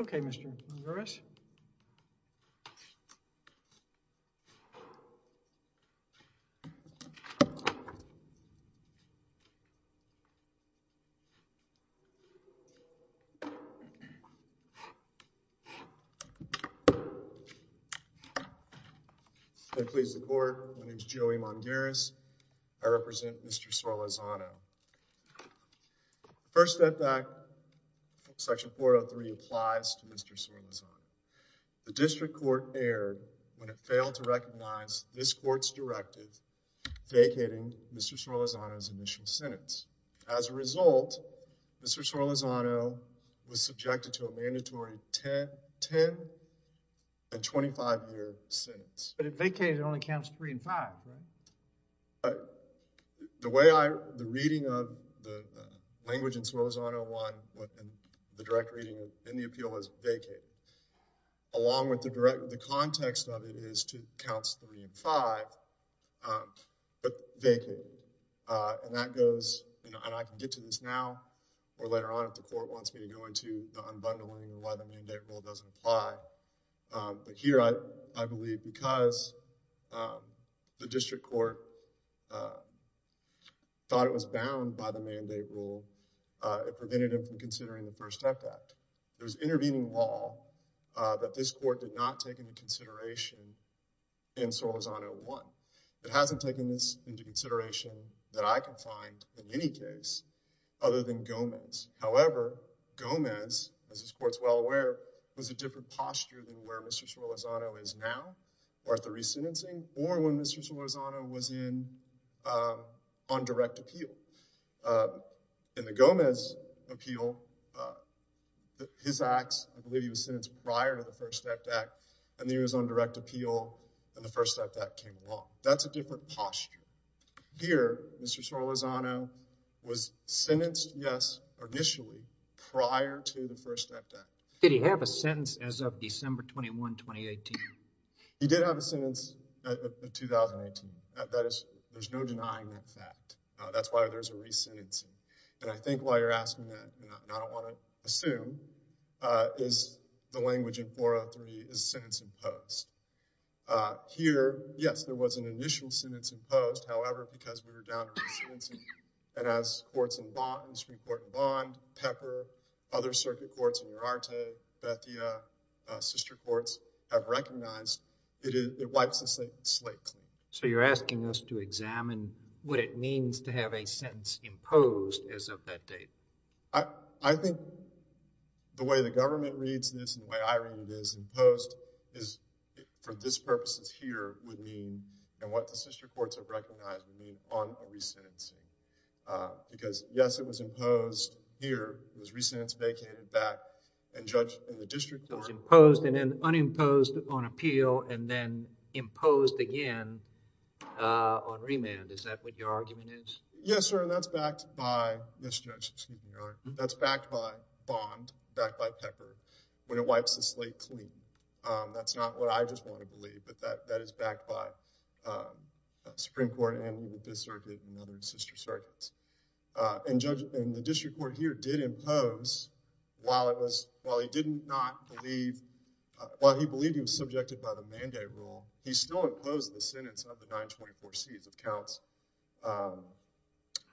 Okay, Mr. Ramirez. May it please the Court, my name is Joey Mongeres, I represent Mr. Sorlazzano. The first step back, section 403 applies to Mr. Sorlazzano. The district court erred when it failed to recognize this court's directive vacating Mr. Sorlazzano's initial sentence. As a result, Mr. Sorlazzano was subjected to a mandatory 10 and 25 year sentence. But it vacated only counts 3 and 5, right? The way I, the reading of the language in Sorlazzano 1, the direct reading in the appeal is vacated. Along with the direct, the context of it is to counts 3 and 5, but vacated. And that goes, and I can get to this now or later on if the court wants me to go into the unbundling of why the mandate rule doesn't apply. But here I believe because the district court thought it was bound by the mandate rule, it prevented him from considering the first step back. There's intervening law that this court did not take into consideration in Sorlazzano 1. It hasn't taken this into consideration that I can find in any case other than Gomez. However, Gomez, as this court's well aware, was a different posture than where Mr. Sorlazzano is now or at the re-sentencing or when Mr. Sorlazzano was in on direct appeal. In the Gomez appeal, his acts, I believe he was sentenced prior to the first step back and then he was on direct appeal and the first step back came along. That's a different posture. Here, Mr. Sorlazzano was sentenced, yes, initially prior to the first step back. Did he have a sentence as of December 21, 2018? He did have a sentence of 2018. That is, there's no denying that fact. That's why there's a re-sentencing. And I think why you're asking that, and I don't want to assume, is the language in 403 is sentence imposed. Here, yes, there was an initial sentence imposed. However, because we were down to re-sentencing, and as courts in bond, Supreme Court in bond, Pepper, other circuit courts in Urarta, Bethia, sister courts have recognized, it wipes the slate clean. So you're asking us to examine what it means to have a sentence imposed as of that date? I think the way the government reads this and the way I read it is imposed is, for this purposes here, would mean, and what the sister courts have recognized, would mean on a re-sentencing. Because yes, it was imposed here. It was re-sentenced, vacated back, and judged in the district court. So it's imposed and then unimposed on appeal and then imposed again on remand. Is that what your argument is? Yes, sir. And that's backed by, yes, Judge, excuse me, Your Honor. That's backed by bond, backed by Pepper, when it wipes the slate clean. That's not what I just want to believe, but that is backed by Supreme Court and the Fifth Circuit and other sister circuits. And Judge, and the district court here did impose, while it was, while he did not believe, while he believed he was subjected by the mandate rule, he still imposed the sentence of the 924 C's of counts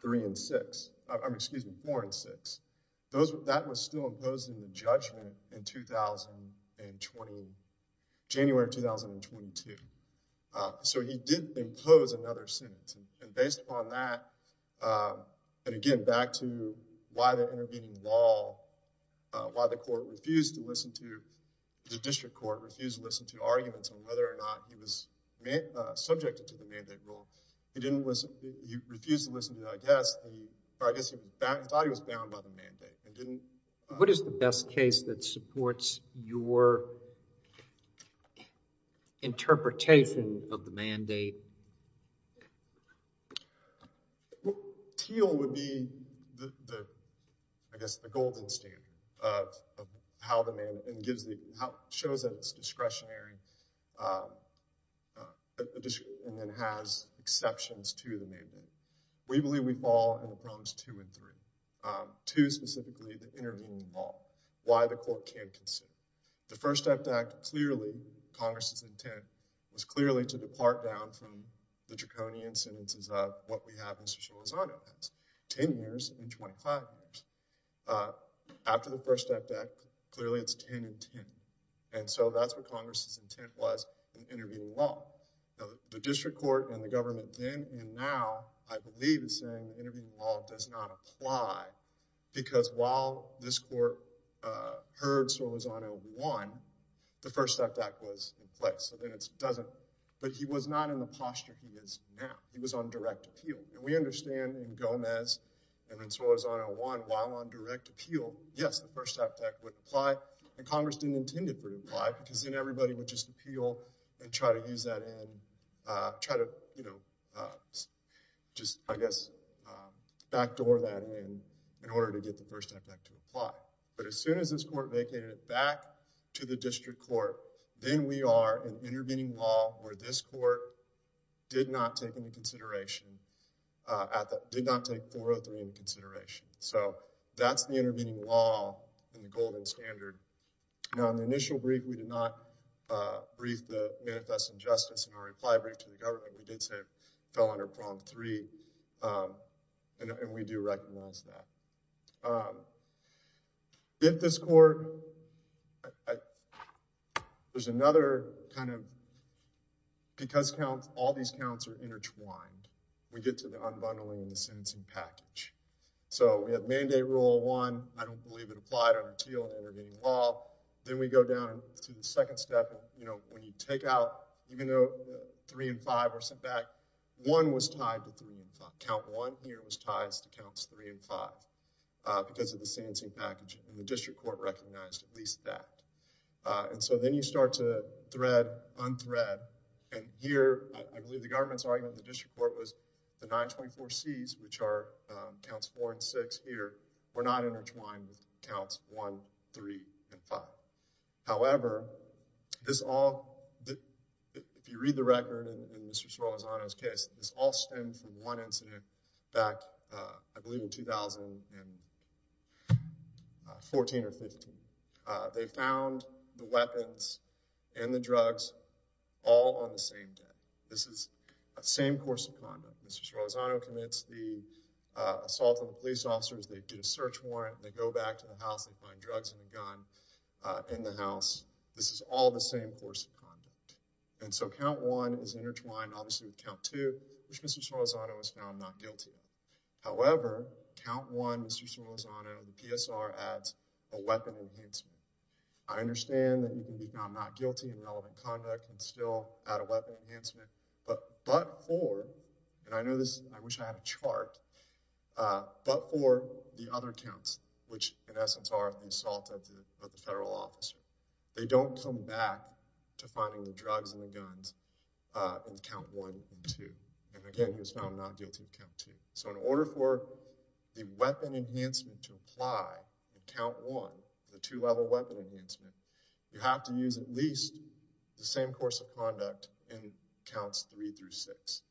three and six. I'm, excuse me, four and six. That was still imposed in the judgment in 2020, January of 2022. So he did impose another sentence. And based upon that, and again, back to why the intervening law, why the court refused to listen to, the district court refused to listen to arguments on whether or not he was subjected to the mandate rule. He didn't listen, he refused to listen to, I guess, or I guess he thought he was bound by the mandate and didn't. What is the best case that supports your interpretation of the mandate? Teal would be the, I guess, the golden standard of how the man, and gives the, shows that it's discretionary, and then has exceptions to the mandate. We believe we fall in the problems two and three, two specifically the intervening law, why the court can't concede. The first act clearly Congress's intent was clearly to depart down from the draconian sentences of what we have in Cecilia Lozano, that's 10 years and 25 years. After the first act, clearly it's 10 and 10. And so that's what Congress's intent was in intervening law. The district court and the government then and now, I believe, is saying the intervening law does not apply. Because while this court heard Solizano won, the first act was in place. So then it doesn't, but he was not in the posture he is now. He was on direct appeal. And we understand in Gomez and then Solizano won while on direct appeal. Yes, the first act would apply. And Congress didn't intend it to apply because then everybody would just appeal and try to use that in, try to, you know, just, I guess, backdoor that in, in order to get the first act back to apply. But as soon as this court vacated it back to the district court, then we are in intervening law where this court did not take into consideration, did not take 403 into consideration. So that's the intervening law and the golden standard. Now, in the initial brief, we did not brief the manifest injustice in our reply brief to the government. We did say it fell under prompt three, and we do recognize that. If this court, there's another kind of, because counts, all these counts are intertwined. We get to the unbundling and the sentencing package. So we have mandate rule one. I don't believe it applied on appeal and intervening law. Then we go down to the second step. You know, when you take out, even though three and five were sent back, one was tied to three and five. Count one here was ties to counts three and five because of the sentencing package. And the district court recognized at least that. And so then you start to thread, unthread. And here, I believe the government's argument, the district court was the 924Cs, which are counts four and six here, were not intertwined with counts one, three, and five. However, this all, if you read the record in Mr. Sorozano's case, this all stemmed from one incident back, I believe in 2014 or 15. They found the weapons and the drugs all on the same day. This is the same course of conduct. Mr. Sorozano commits the assault on police officers. They get a search warrant. They go back to the house. They find drugs in the gun in the house. This is all the same course of conduct. And so count one is intertwined, obviously, with count two, which Mr. Sorozano was found not guilty of. However, count one, Mr. Sorozano, the PSR adds a weapon enhancement. I understand that you can be found not guilty in relevant conduct and still add a weapon enhancement. But but for, and I know this, I wish I had a chart, but for the other counts, which in essence are the assault of the federal officer, they don't come back to finding the drugs and the guns in count one and two. And again, he was found not guilty of count two. So in order for the weapon enhancement to apply in count one, the two-level weapon enhancement, you have to use at least the same course of conduct in counts three through six,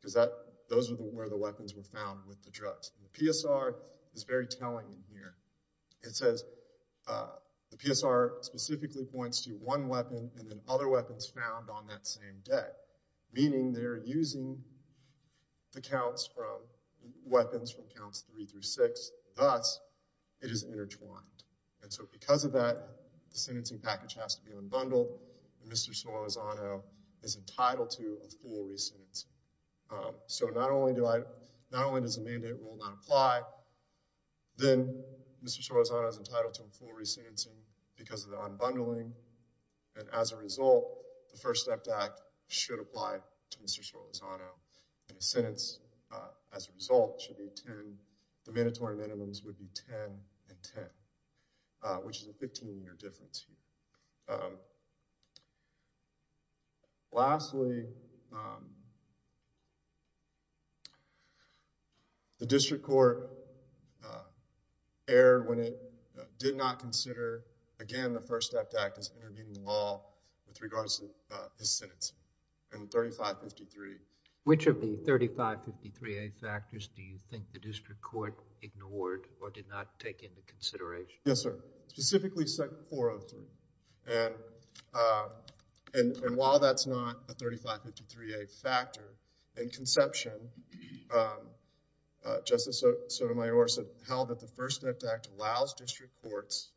because that those are where the weapons were found with the drugs. The PSR is very telling in here. It says the PSR specifically points to one weapon and then other weapons found on that same day, meaning they're using the counts from weapons from counts three through six. Thus, it is intertwined. And so because of that, the sentencing package has to be unbundled. Mr. Sorellozano is entitled to a full re-sentencing. So not only do I, not only does the mandate rule not apply, then Mr. Sorellozano is entitled to a full re-sentencing because of the unbundling. And as a result, the First Step Act should apply to Mr. Sorellozano. And his sentence, as a result, should be 10. The mandatory minimums would be 10 and 10, which is a 15-year difference here. Lastly, the district court erred when it did not consider, again, the First Step Act as intervening law with regards to his sentence in 3553. Which of the 3553A factors do you think the district court ignored or did not take into consideration? Yes, sir. Specifically, Section 403. And while that's not a 3553A factor, in conception, Justice Sotomayor said, held that the First Step Act allows district courts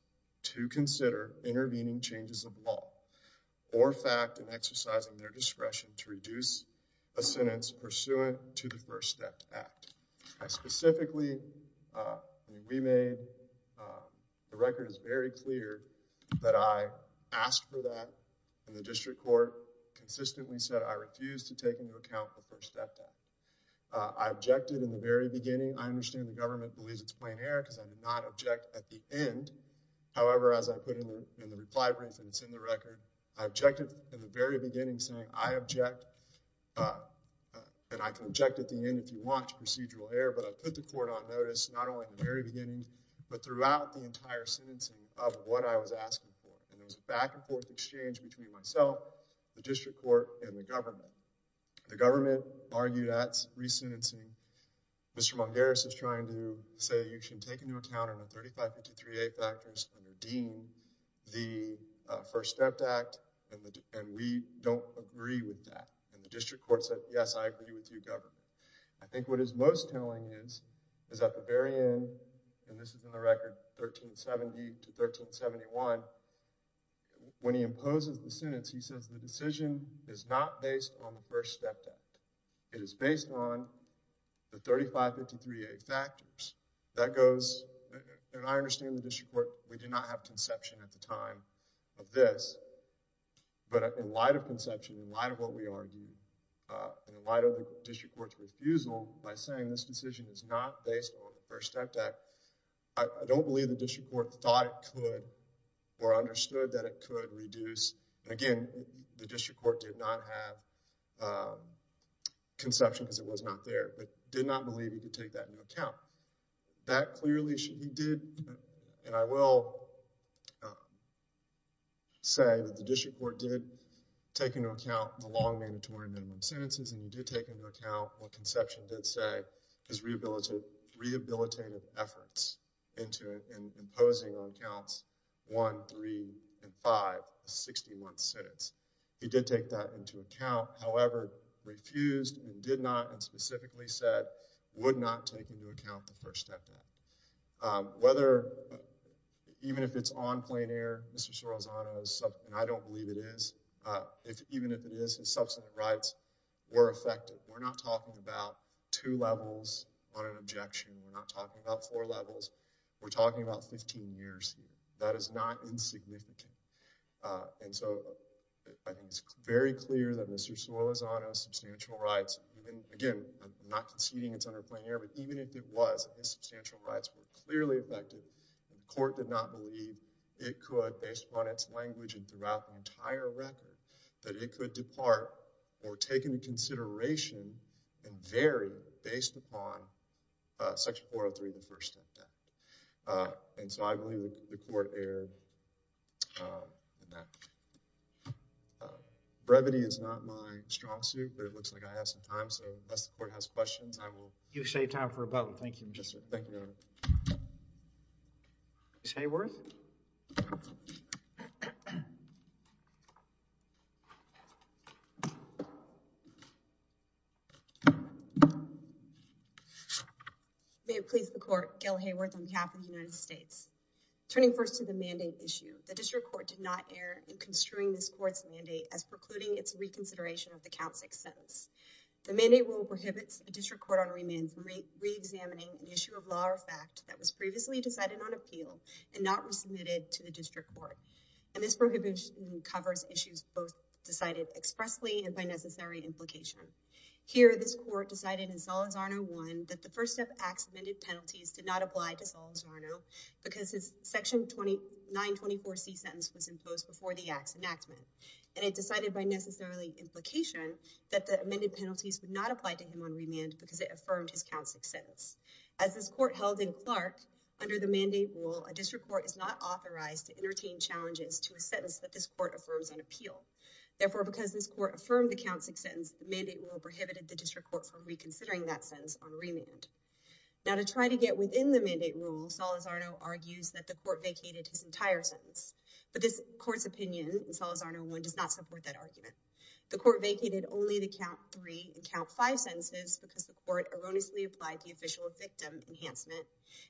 to consider intervening changes of law or fact and exercising their discretion to reduce a sentence pursuant to the First Step Act. I specifically, we made, the record is very clear that I asked for that and the district court consistently said I refuse to take into account the First Step Act. I objected in the very beginning. I understand the government believes it's plain error because I did not object at the end. However, as I put in the reply brief and it's in the record, I objected in the very beginning saying I object and I can object at the end if you want to procedural error, but I put the court on notice not only in the very beginning, but throughout the entire sentencing of what I was asking for. And there was a back and forth exchange between myself, the district court, and the government. The government argued at re-sentencing. Mr. Mungares is trying to say you should take into account the 3553A factors and redeem the First Step Act and we don't agree with that. And the district court said, yes, I agree with you, government. I think what is most telling is, is at the very end, and this is in the record 1370 to 1371, when he imposes the sentence, he says the decision is not based on the First Step Act. It is based on the 3553A factors. That goes, and I understand the district court, we did not have conception at the time of this, but in light of conception, in light of what we argued, in light of the district court's refusal by saying this decision is not based on the First Step Act, I don't believe the district court thought it could or understood that it could reduce. Again, the district court did not have conception because it was not there, but did not believe he could take that into account. That clearly, he did, and I will say that the district court did take into account the long mandatory minimum sentences and he did take into account what conception did say, his rehabilitative efforts into and imposing on counts one, three, and five, a 60-month sentence. He did take that into account, however, refused and did not, and specifically said, would not take into account the First Step Act. Whether, even if it's on plain air, Mr. Suarezano's, and I don't believe it is, even if it is, his substantive rights were affected. We're not talking about two levels on an objection. We're not talking about four levels. We're talking about 15 years here. That is not insignificant, and so I think it's very clear that Mr. Suarezano's substantial rights, again, I'm not conceding it's under plain air, but even if it was, his substantial rights were clearly affected and the court did not believe it could, based upon its language and throughout the entire record, that it could depart or take into consideration and vary based upon Section 403, the First Step Act, and so I believe the court erred in that. Brevity is not my strong suit, but it looks like I have some time, so unless the court has questions, I will. You've saved time for a moment. Thank you, Magistrate. Thank you, Your Honor. Ms. Hayworth? May it please the Court, Gail Hayworth on behalf of the United States. Turning first to the mandate issue, the District Court did not err in construing this Court's mandate as precluding its reconsideration of the Count 6 sentence. The mandate rule prohibits a District Court honoree man from reexamining an issue of law or fact that was previously decided on appeal and not resubmitted to the District Court, and this prohibition covers issues both decided expressly and by necessary implication. Here, this Court decided in Suarezano 1 that the First Step Act's amended penalties did not apply to Suarezano because his Section 924C sentence was imposed before the Act's enactment, and it decided by necessarily implication that the amended penalties would not apply to him on remand because it affirmed his Count 6 sentence. As this Court held in Clark, under the mandate rule, a District Court is not authorized to entertain challenges to a sentence that this Court affirms on appeal. Therefore, because this Court affirmed the Count 6 sentence, the mandate rule prohibited the District Court from reconsidering that sentence on remand. Now, to try to get within the mandate rule, Suarezano argues that the Court vacated his entire sentence, but this Court's opinion in Suarezano 1 does not support that argument. The Court vacated only the Count 3 and Count 5 sentences because the Court erroneously applied the official victim enhancement,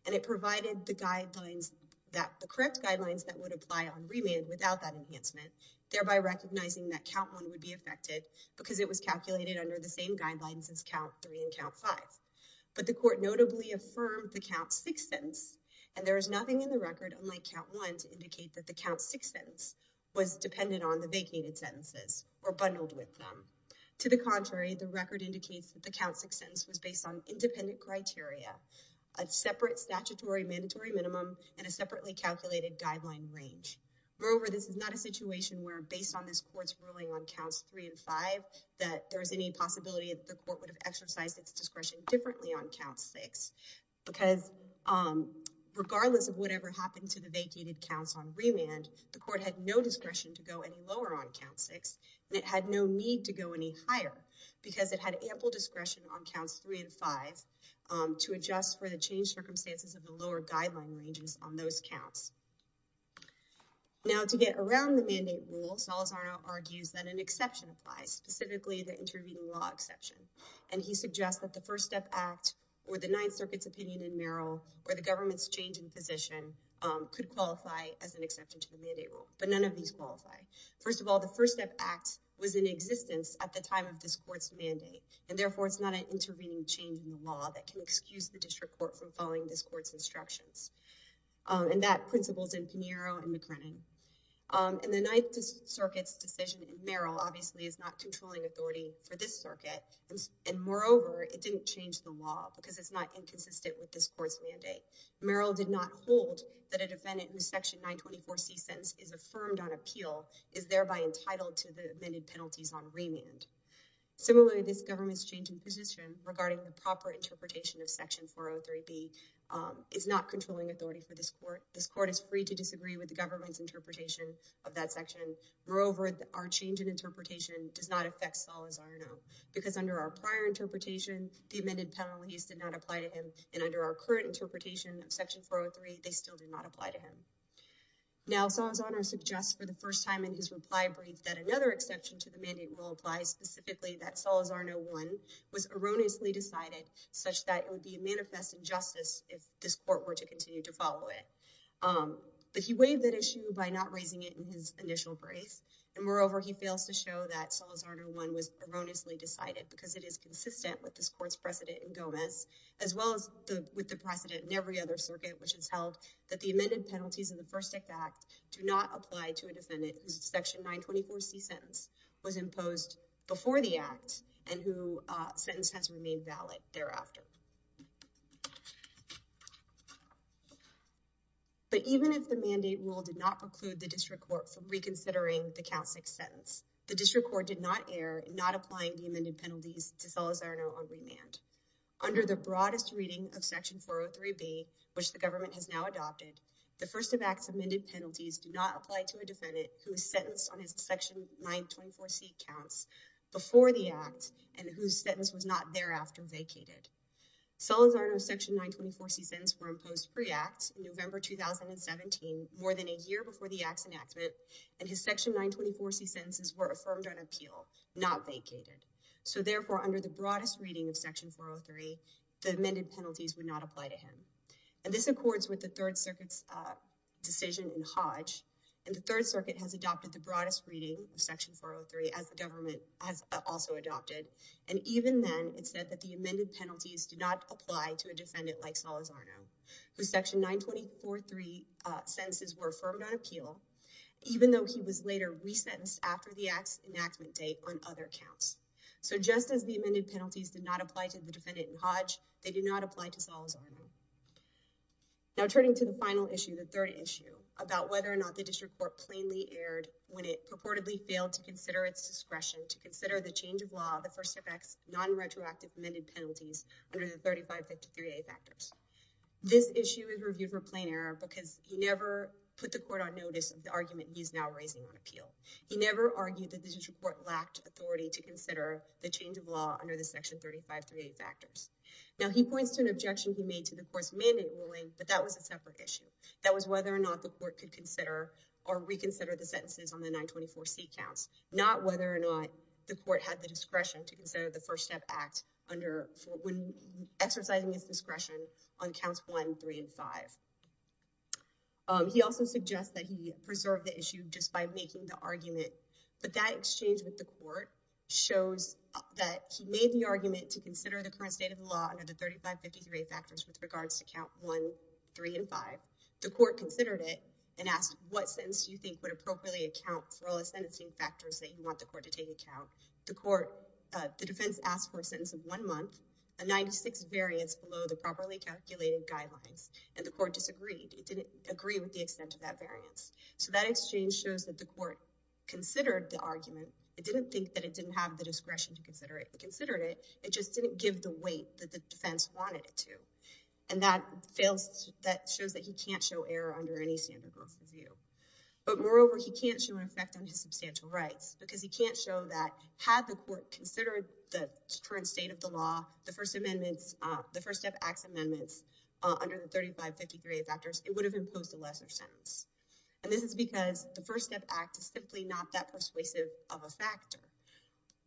and it provided the correct guidelines that would apply on remand without that enhancement, thereby recognizing that Count 1 would be affected because it was notably affirmed the Count 6 sentence, and there is nothing in the record, unlike Count 1, to indicate that the Count 6 sentence was dependent on the vacated sentences or bundled with them. To the contrary, the record indicates that the Count 6 sentence was based on independent criteria, a separate statutory mandatory minimum, and a separately calculated guideline range. Moreover, this is not a situation where, based on this Court's ruling on Counts 3 and 5, that there is any possibility that the Court would have exercised its discretion differently on Count 6, because regardless of whatever happened to the vacated counts on remand, the Court had no discretion to go any lower on Count 6, and it had no need to go any higher because it had ample discretion on Counts 3 and 5 to adjust for the changed circumstances of the lower guideline ranges on those counts. Now, to get around the mandate rule, Suarezano argues that an exception applies, specifically the intervening law exception, and he suggests that the First Step Act, or the Ninth Circuit's opinion in Merrill, or the government's change in position, could qualify as an exception to the mandate rule, but none of these qualify. First of all, the First Step Act was in existence at the time of this Court's mandate, and therefore it's not an intervening change in the law that can excuse the district court from following this Court's instructions, and that principles in Pinheiro and McCrennan. And the Ninth Circuit's decision in Merrill obviously is not controlling authority for this Circuit, and moreover, it didn't change the law because it's not inconsistent with this Court's mandate. Merrill did not hold that a defendant whose Section 924C sentence is affirmed on appeal is thereby entitled to the amended penalties on remand. Similarly, this government's change in position regarding the proper interpretation of Section 403B is not controlling authority for this Court. This Court is free to disagree with government's interpretation of that section. Moreover, our change in interpretation does not affect Salazarno, because under our prior interpretation, the amended penalties did not apply to him, and under our current interpretation of Section 403, they still did not apply to him. Now, Salazarno suggests for the first time in his reply brief that another exception to the mandate rule applies, specifically that Salazarno 1 was erroneously decided, such that it would be a manifest injustice if this Court were to continue to follow it. But he waived that issue by not raising it in his initial brief, and moreover, he fails to show that Salazarno 1 was erroneously decided, because it is consistent with this Court's precedent in Gomez, as well as with the precedent in every other Circuit, which has held that the amended penalties of the First Act do not apply to a defendant whose Section 924C sentence was imposed before the Act, and whose sentence has remained valid thereafter. But even if the mandate rule did not preclude the District Court from reconsidering the Count 6 sentence, the District Court did not err in not applying the amended penalties to Salazarno on remand. Under the broadest reading of Section 403B, which the government has now adopted, the First of Acts amended penalties do not apply to a defendant who is sentenced on his Section 924C counts before the Act, and whose sentence was not thereafter vacated. Salazarno's Section 924C sentences were imposed pre-Act, in November 2017, more than a year before the Act's enactment, and his Section 924C sentences were affirmed on appeal, not vacated. So therefore, under the broadest reading of Section 403, the amended penalties would not apply to him. And this accords with the Third Circuit's decision in Hodge, and the Third Circuit has adopted the broadest reading of Section 403, as the government has also adopted, and even then, it said that the Salazarno, whose Section 924C sentences were affirmed on appeal, even though he was later resentenced after the Act's enactment date on other counts. So just as the amended penalties did not apply to the defendant in Hodge, they did not apply to Salazarno. Now turning to the final issue, the third issue, about whether or not the District Court plainly erred when it purportedly failed to consider its discretion to consider the change of law, the First of Acts non-retroactive amended penalties under the 3553A factors. This issue is reviewed for plain error because he never put the Court on notice of the argument he is now raising on appeal. He never argued that the District Court lacked authority to consider the change of law under the Section 3538 factors. Now he points to an objection he made to the Court's mandate ruling, but that was a separate issue. That was whether or not the Court could consider or reconsider the sentences on the 924C not whether or not the Court had the discretion to consider the First Step Act when exercising its discretion on counts 1, 3, and 5. He also suggests that he preserved the issue just by making the argument, but that exchange with the Court shows that he made the argument to consider the current state of the law under the 3553A factors with regards to count 1, 3, and 5. The Court considered it and asked, what sentence do you think would appropriately account for all the sentencing factors that you want the Court to take account? The Court, the defense asked for a sentence of one month, a 96 variance below the properly calculated guidelines, and the Court disagreed. It didn't agree with the extent of that variance. So that exchange shows that the Court considered the argument. It didn't think that it didn't have the discretion to consider it. It considered it, it just didn't give the weight that the defense wanted it to. And that fails, that shows that he can't show error under any standard growth review. But moreover, he can't show an effect on his substantial rights because he can't show that had the Court considered the current state of the law, the First Step Act's amendments under the 3553A factors, it would have imposed a lesser sentence. And this is because the First Step Act is simply not that persuasive of a factor.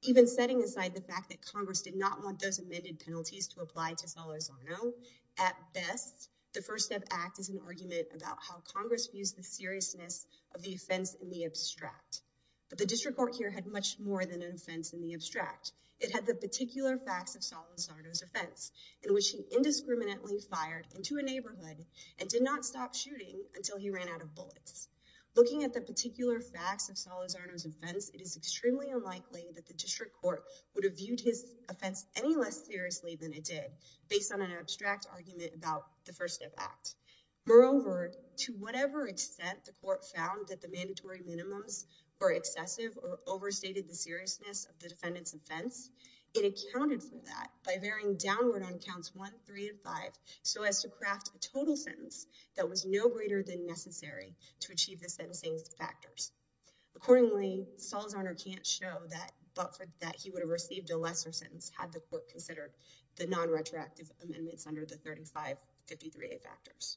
Even setting aside the fact that Congress did not want those amended penalties to apply to Solorzano, at best, the First Step Act is an argument about how Congress views the seriousness of the offense in the abstract. But the District Court here had much more than an offense in the abstract. It had the particular facts of Solorzano's offense, in which he indiscriminately fired into a neighborhood and did not stop shooting until he ran out of bullets. Looking at the particular facts of Solorzano's offense, it is extremely unlikely that the District Court would have viewed his offense any less seriously than it did, based on an abstract argument about the First Step Act. Moreover, to whatever extent the Court found that the mandatory minimums were excessive or overstated the seriousness of the defendant's offense, it accounted for that by varying downward on counts one, three, and five, so as to craft a total sentence that was no greater than necessary to achieve the sentencing's factors. Accordingly, Solorzano can't show that he would have received a lesser sentence had the Court considered the non-retroactive amendments under the 3553A factors.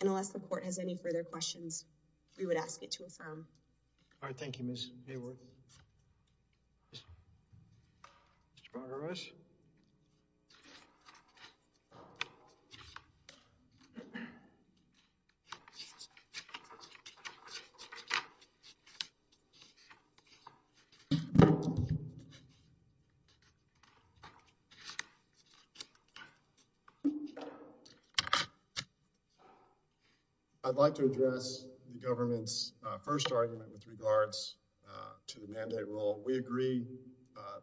And unless the Court has any further questions, we would ask it to affirm. All right, thank you, Ms. Maywood. Mr. Bargaras? I'd like to address the government's first argument with regards to the mandate rule. We agree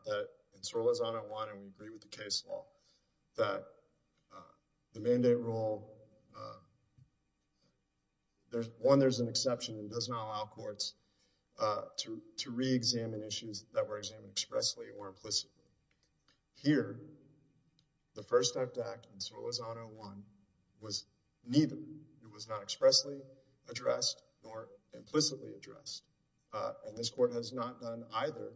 that in Solorzano 1, and we agree with the case law, that the mandate rule, one, there's an exception that does not allow courts to re-examine issues that were examined expressly or implicitly. Here, the First Step Act in Solorzano 1 was neither. It was not expressly addressed nor implicitly addressed. And this Court has not done either,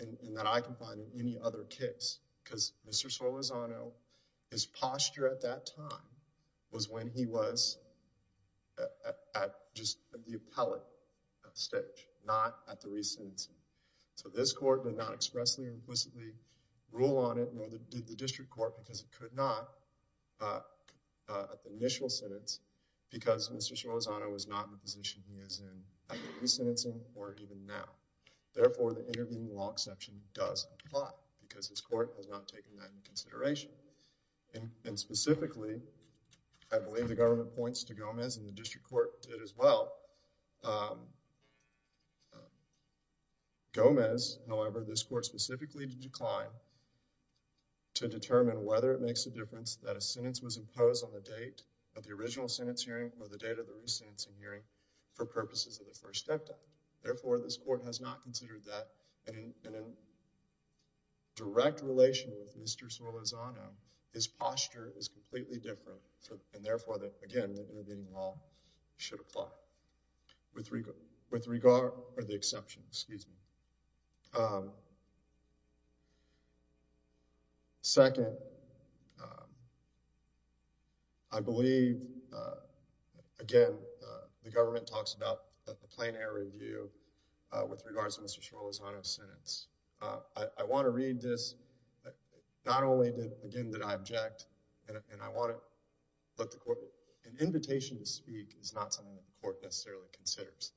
and that I can find in any other case, because Mr. Solorzano, his posture at that time was when he was at just the appellate stage, not at the re-sentencing. So this Court did not expressly or implicitly rule on it, nor did the District Court, because it could not, at the initial sentence, because Mr. Solorzano was not in the position he is in at the re-sentencing or even now. Therefore, the intervening law exception does apply, because his Court has not taken that into consideration. And specifically, I believe the government points to Gomez, and the District Court did as well, Gomez, however, this Court specifically did decline to determine whether it makes a difference that a sentence was imposed on the date of the original sentence hearing or the date of the re-sentencing hearing for purposes of the First Step Act. Therefore, this Court has not considered that, and in direct relation with Mr. Solorzano, his posture is completely different, and therefore, again, the intervening law should apply with regard, or the exception, excuse me. Second, I believe, again, the government talks about a plenary review with regards to Mr. Solorzano's sentence. I want to read this, not only, again, that I object, and I want to let an invitation to speak is not something that the Court necessarily considers.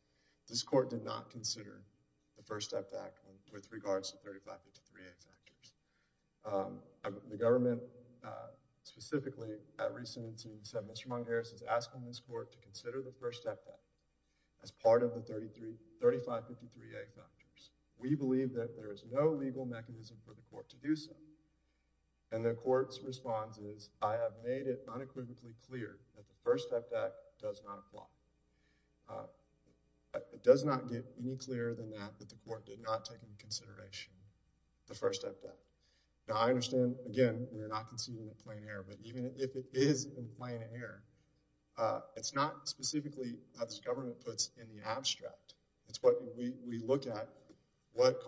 This Court did not consider the First Step Act with regards to 3553A factors. The government specifically, at re-sentencing, said Mr. Montgomery Harris is asking this Court to consider the First Step Act as part of the 3553A factors. We believe that there is no legal mechanism for the Court to do that. The First Step Act does not apply. It does not get any clearer than that, that the Court did not take into consideration the First Step Act. Now, I understand, again, we're not conceding a plain error, but even if it is a plain error, it's not specifically how this government puts in the abstract. It's what we look at, what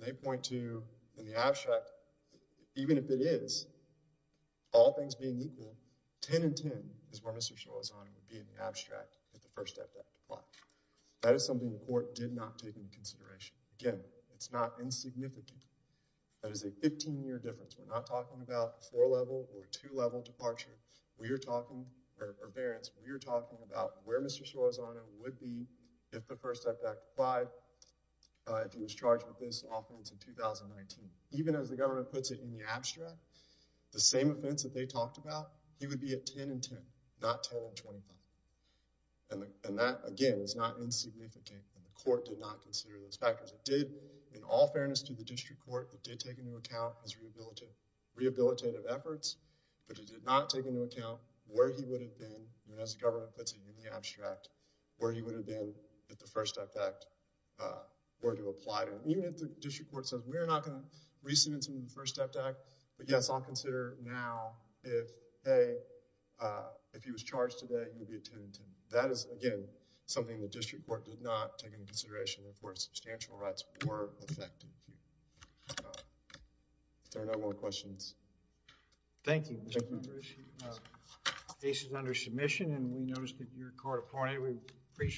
they point to in the abstract. Even if it is, all things being equal, 10 and 10 is where Mr. Solorzano would be in the abstract if the First Step Act applied. That is something the Court did not take into consideration. Again, it's not insignificant. That is a 15-year difference. We're not talking about a four-level or a two-level departure. We are talking, or variance, we are talking about where Mr. Solorzano would be if the First Step Act applied, if he was charged with this offense in 2019. Even as the government puts it in the abstract, the same offense that they talked about, he would be at 10 and 10, not 10 and 25. And that, again, is not insignificant. The Court did not consider those factors. It did, in all fairness to the District Court, it did take into account his rehabilitative efforts, but it did not take into account where he would have been, even as the government puts it in the abstract, where he would have been if the First Step Act were to apply to him. Even if the District Court says we're not going to resubmit him to the First Step Act, but yes, I'll consider now if, A, if he was charged today, he would be at 10 and 10. That is, again, something the District Court did not take into consideration and, of course, substantial rights were affected. If there are no more questions. Thank you, Mr. Coonford. The case is under submission and we noticed that you were caught up on it. We appreciate it.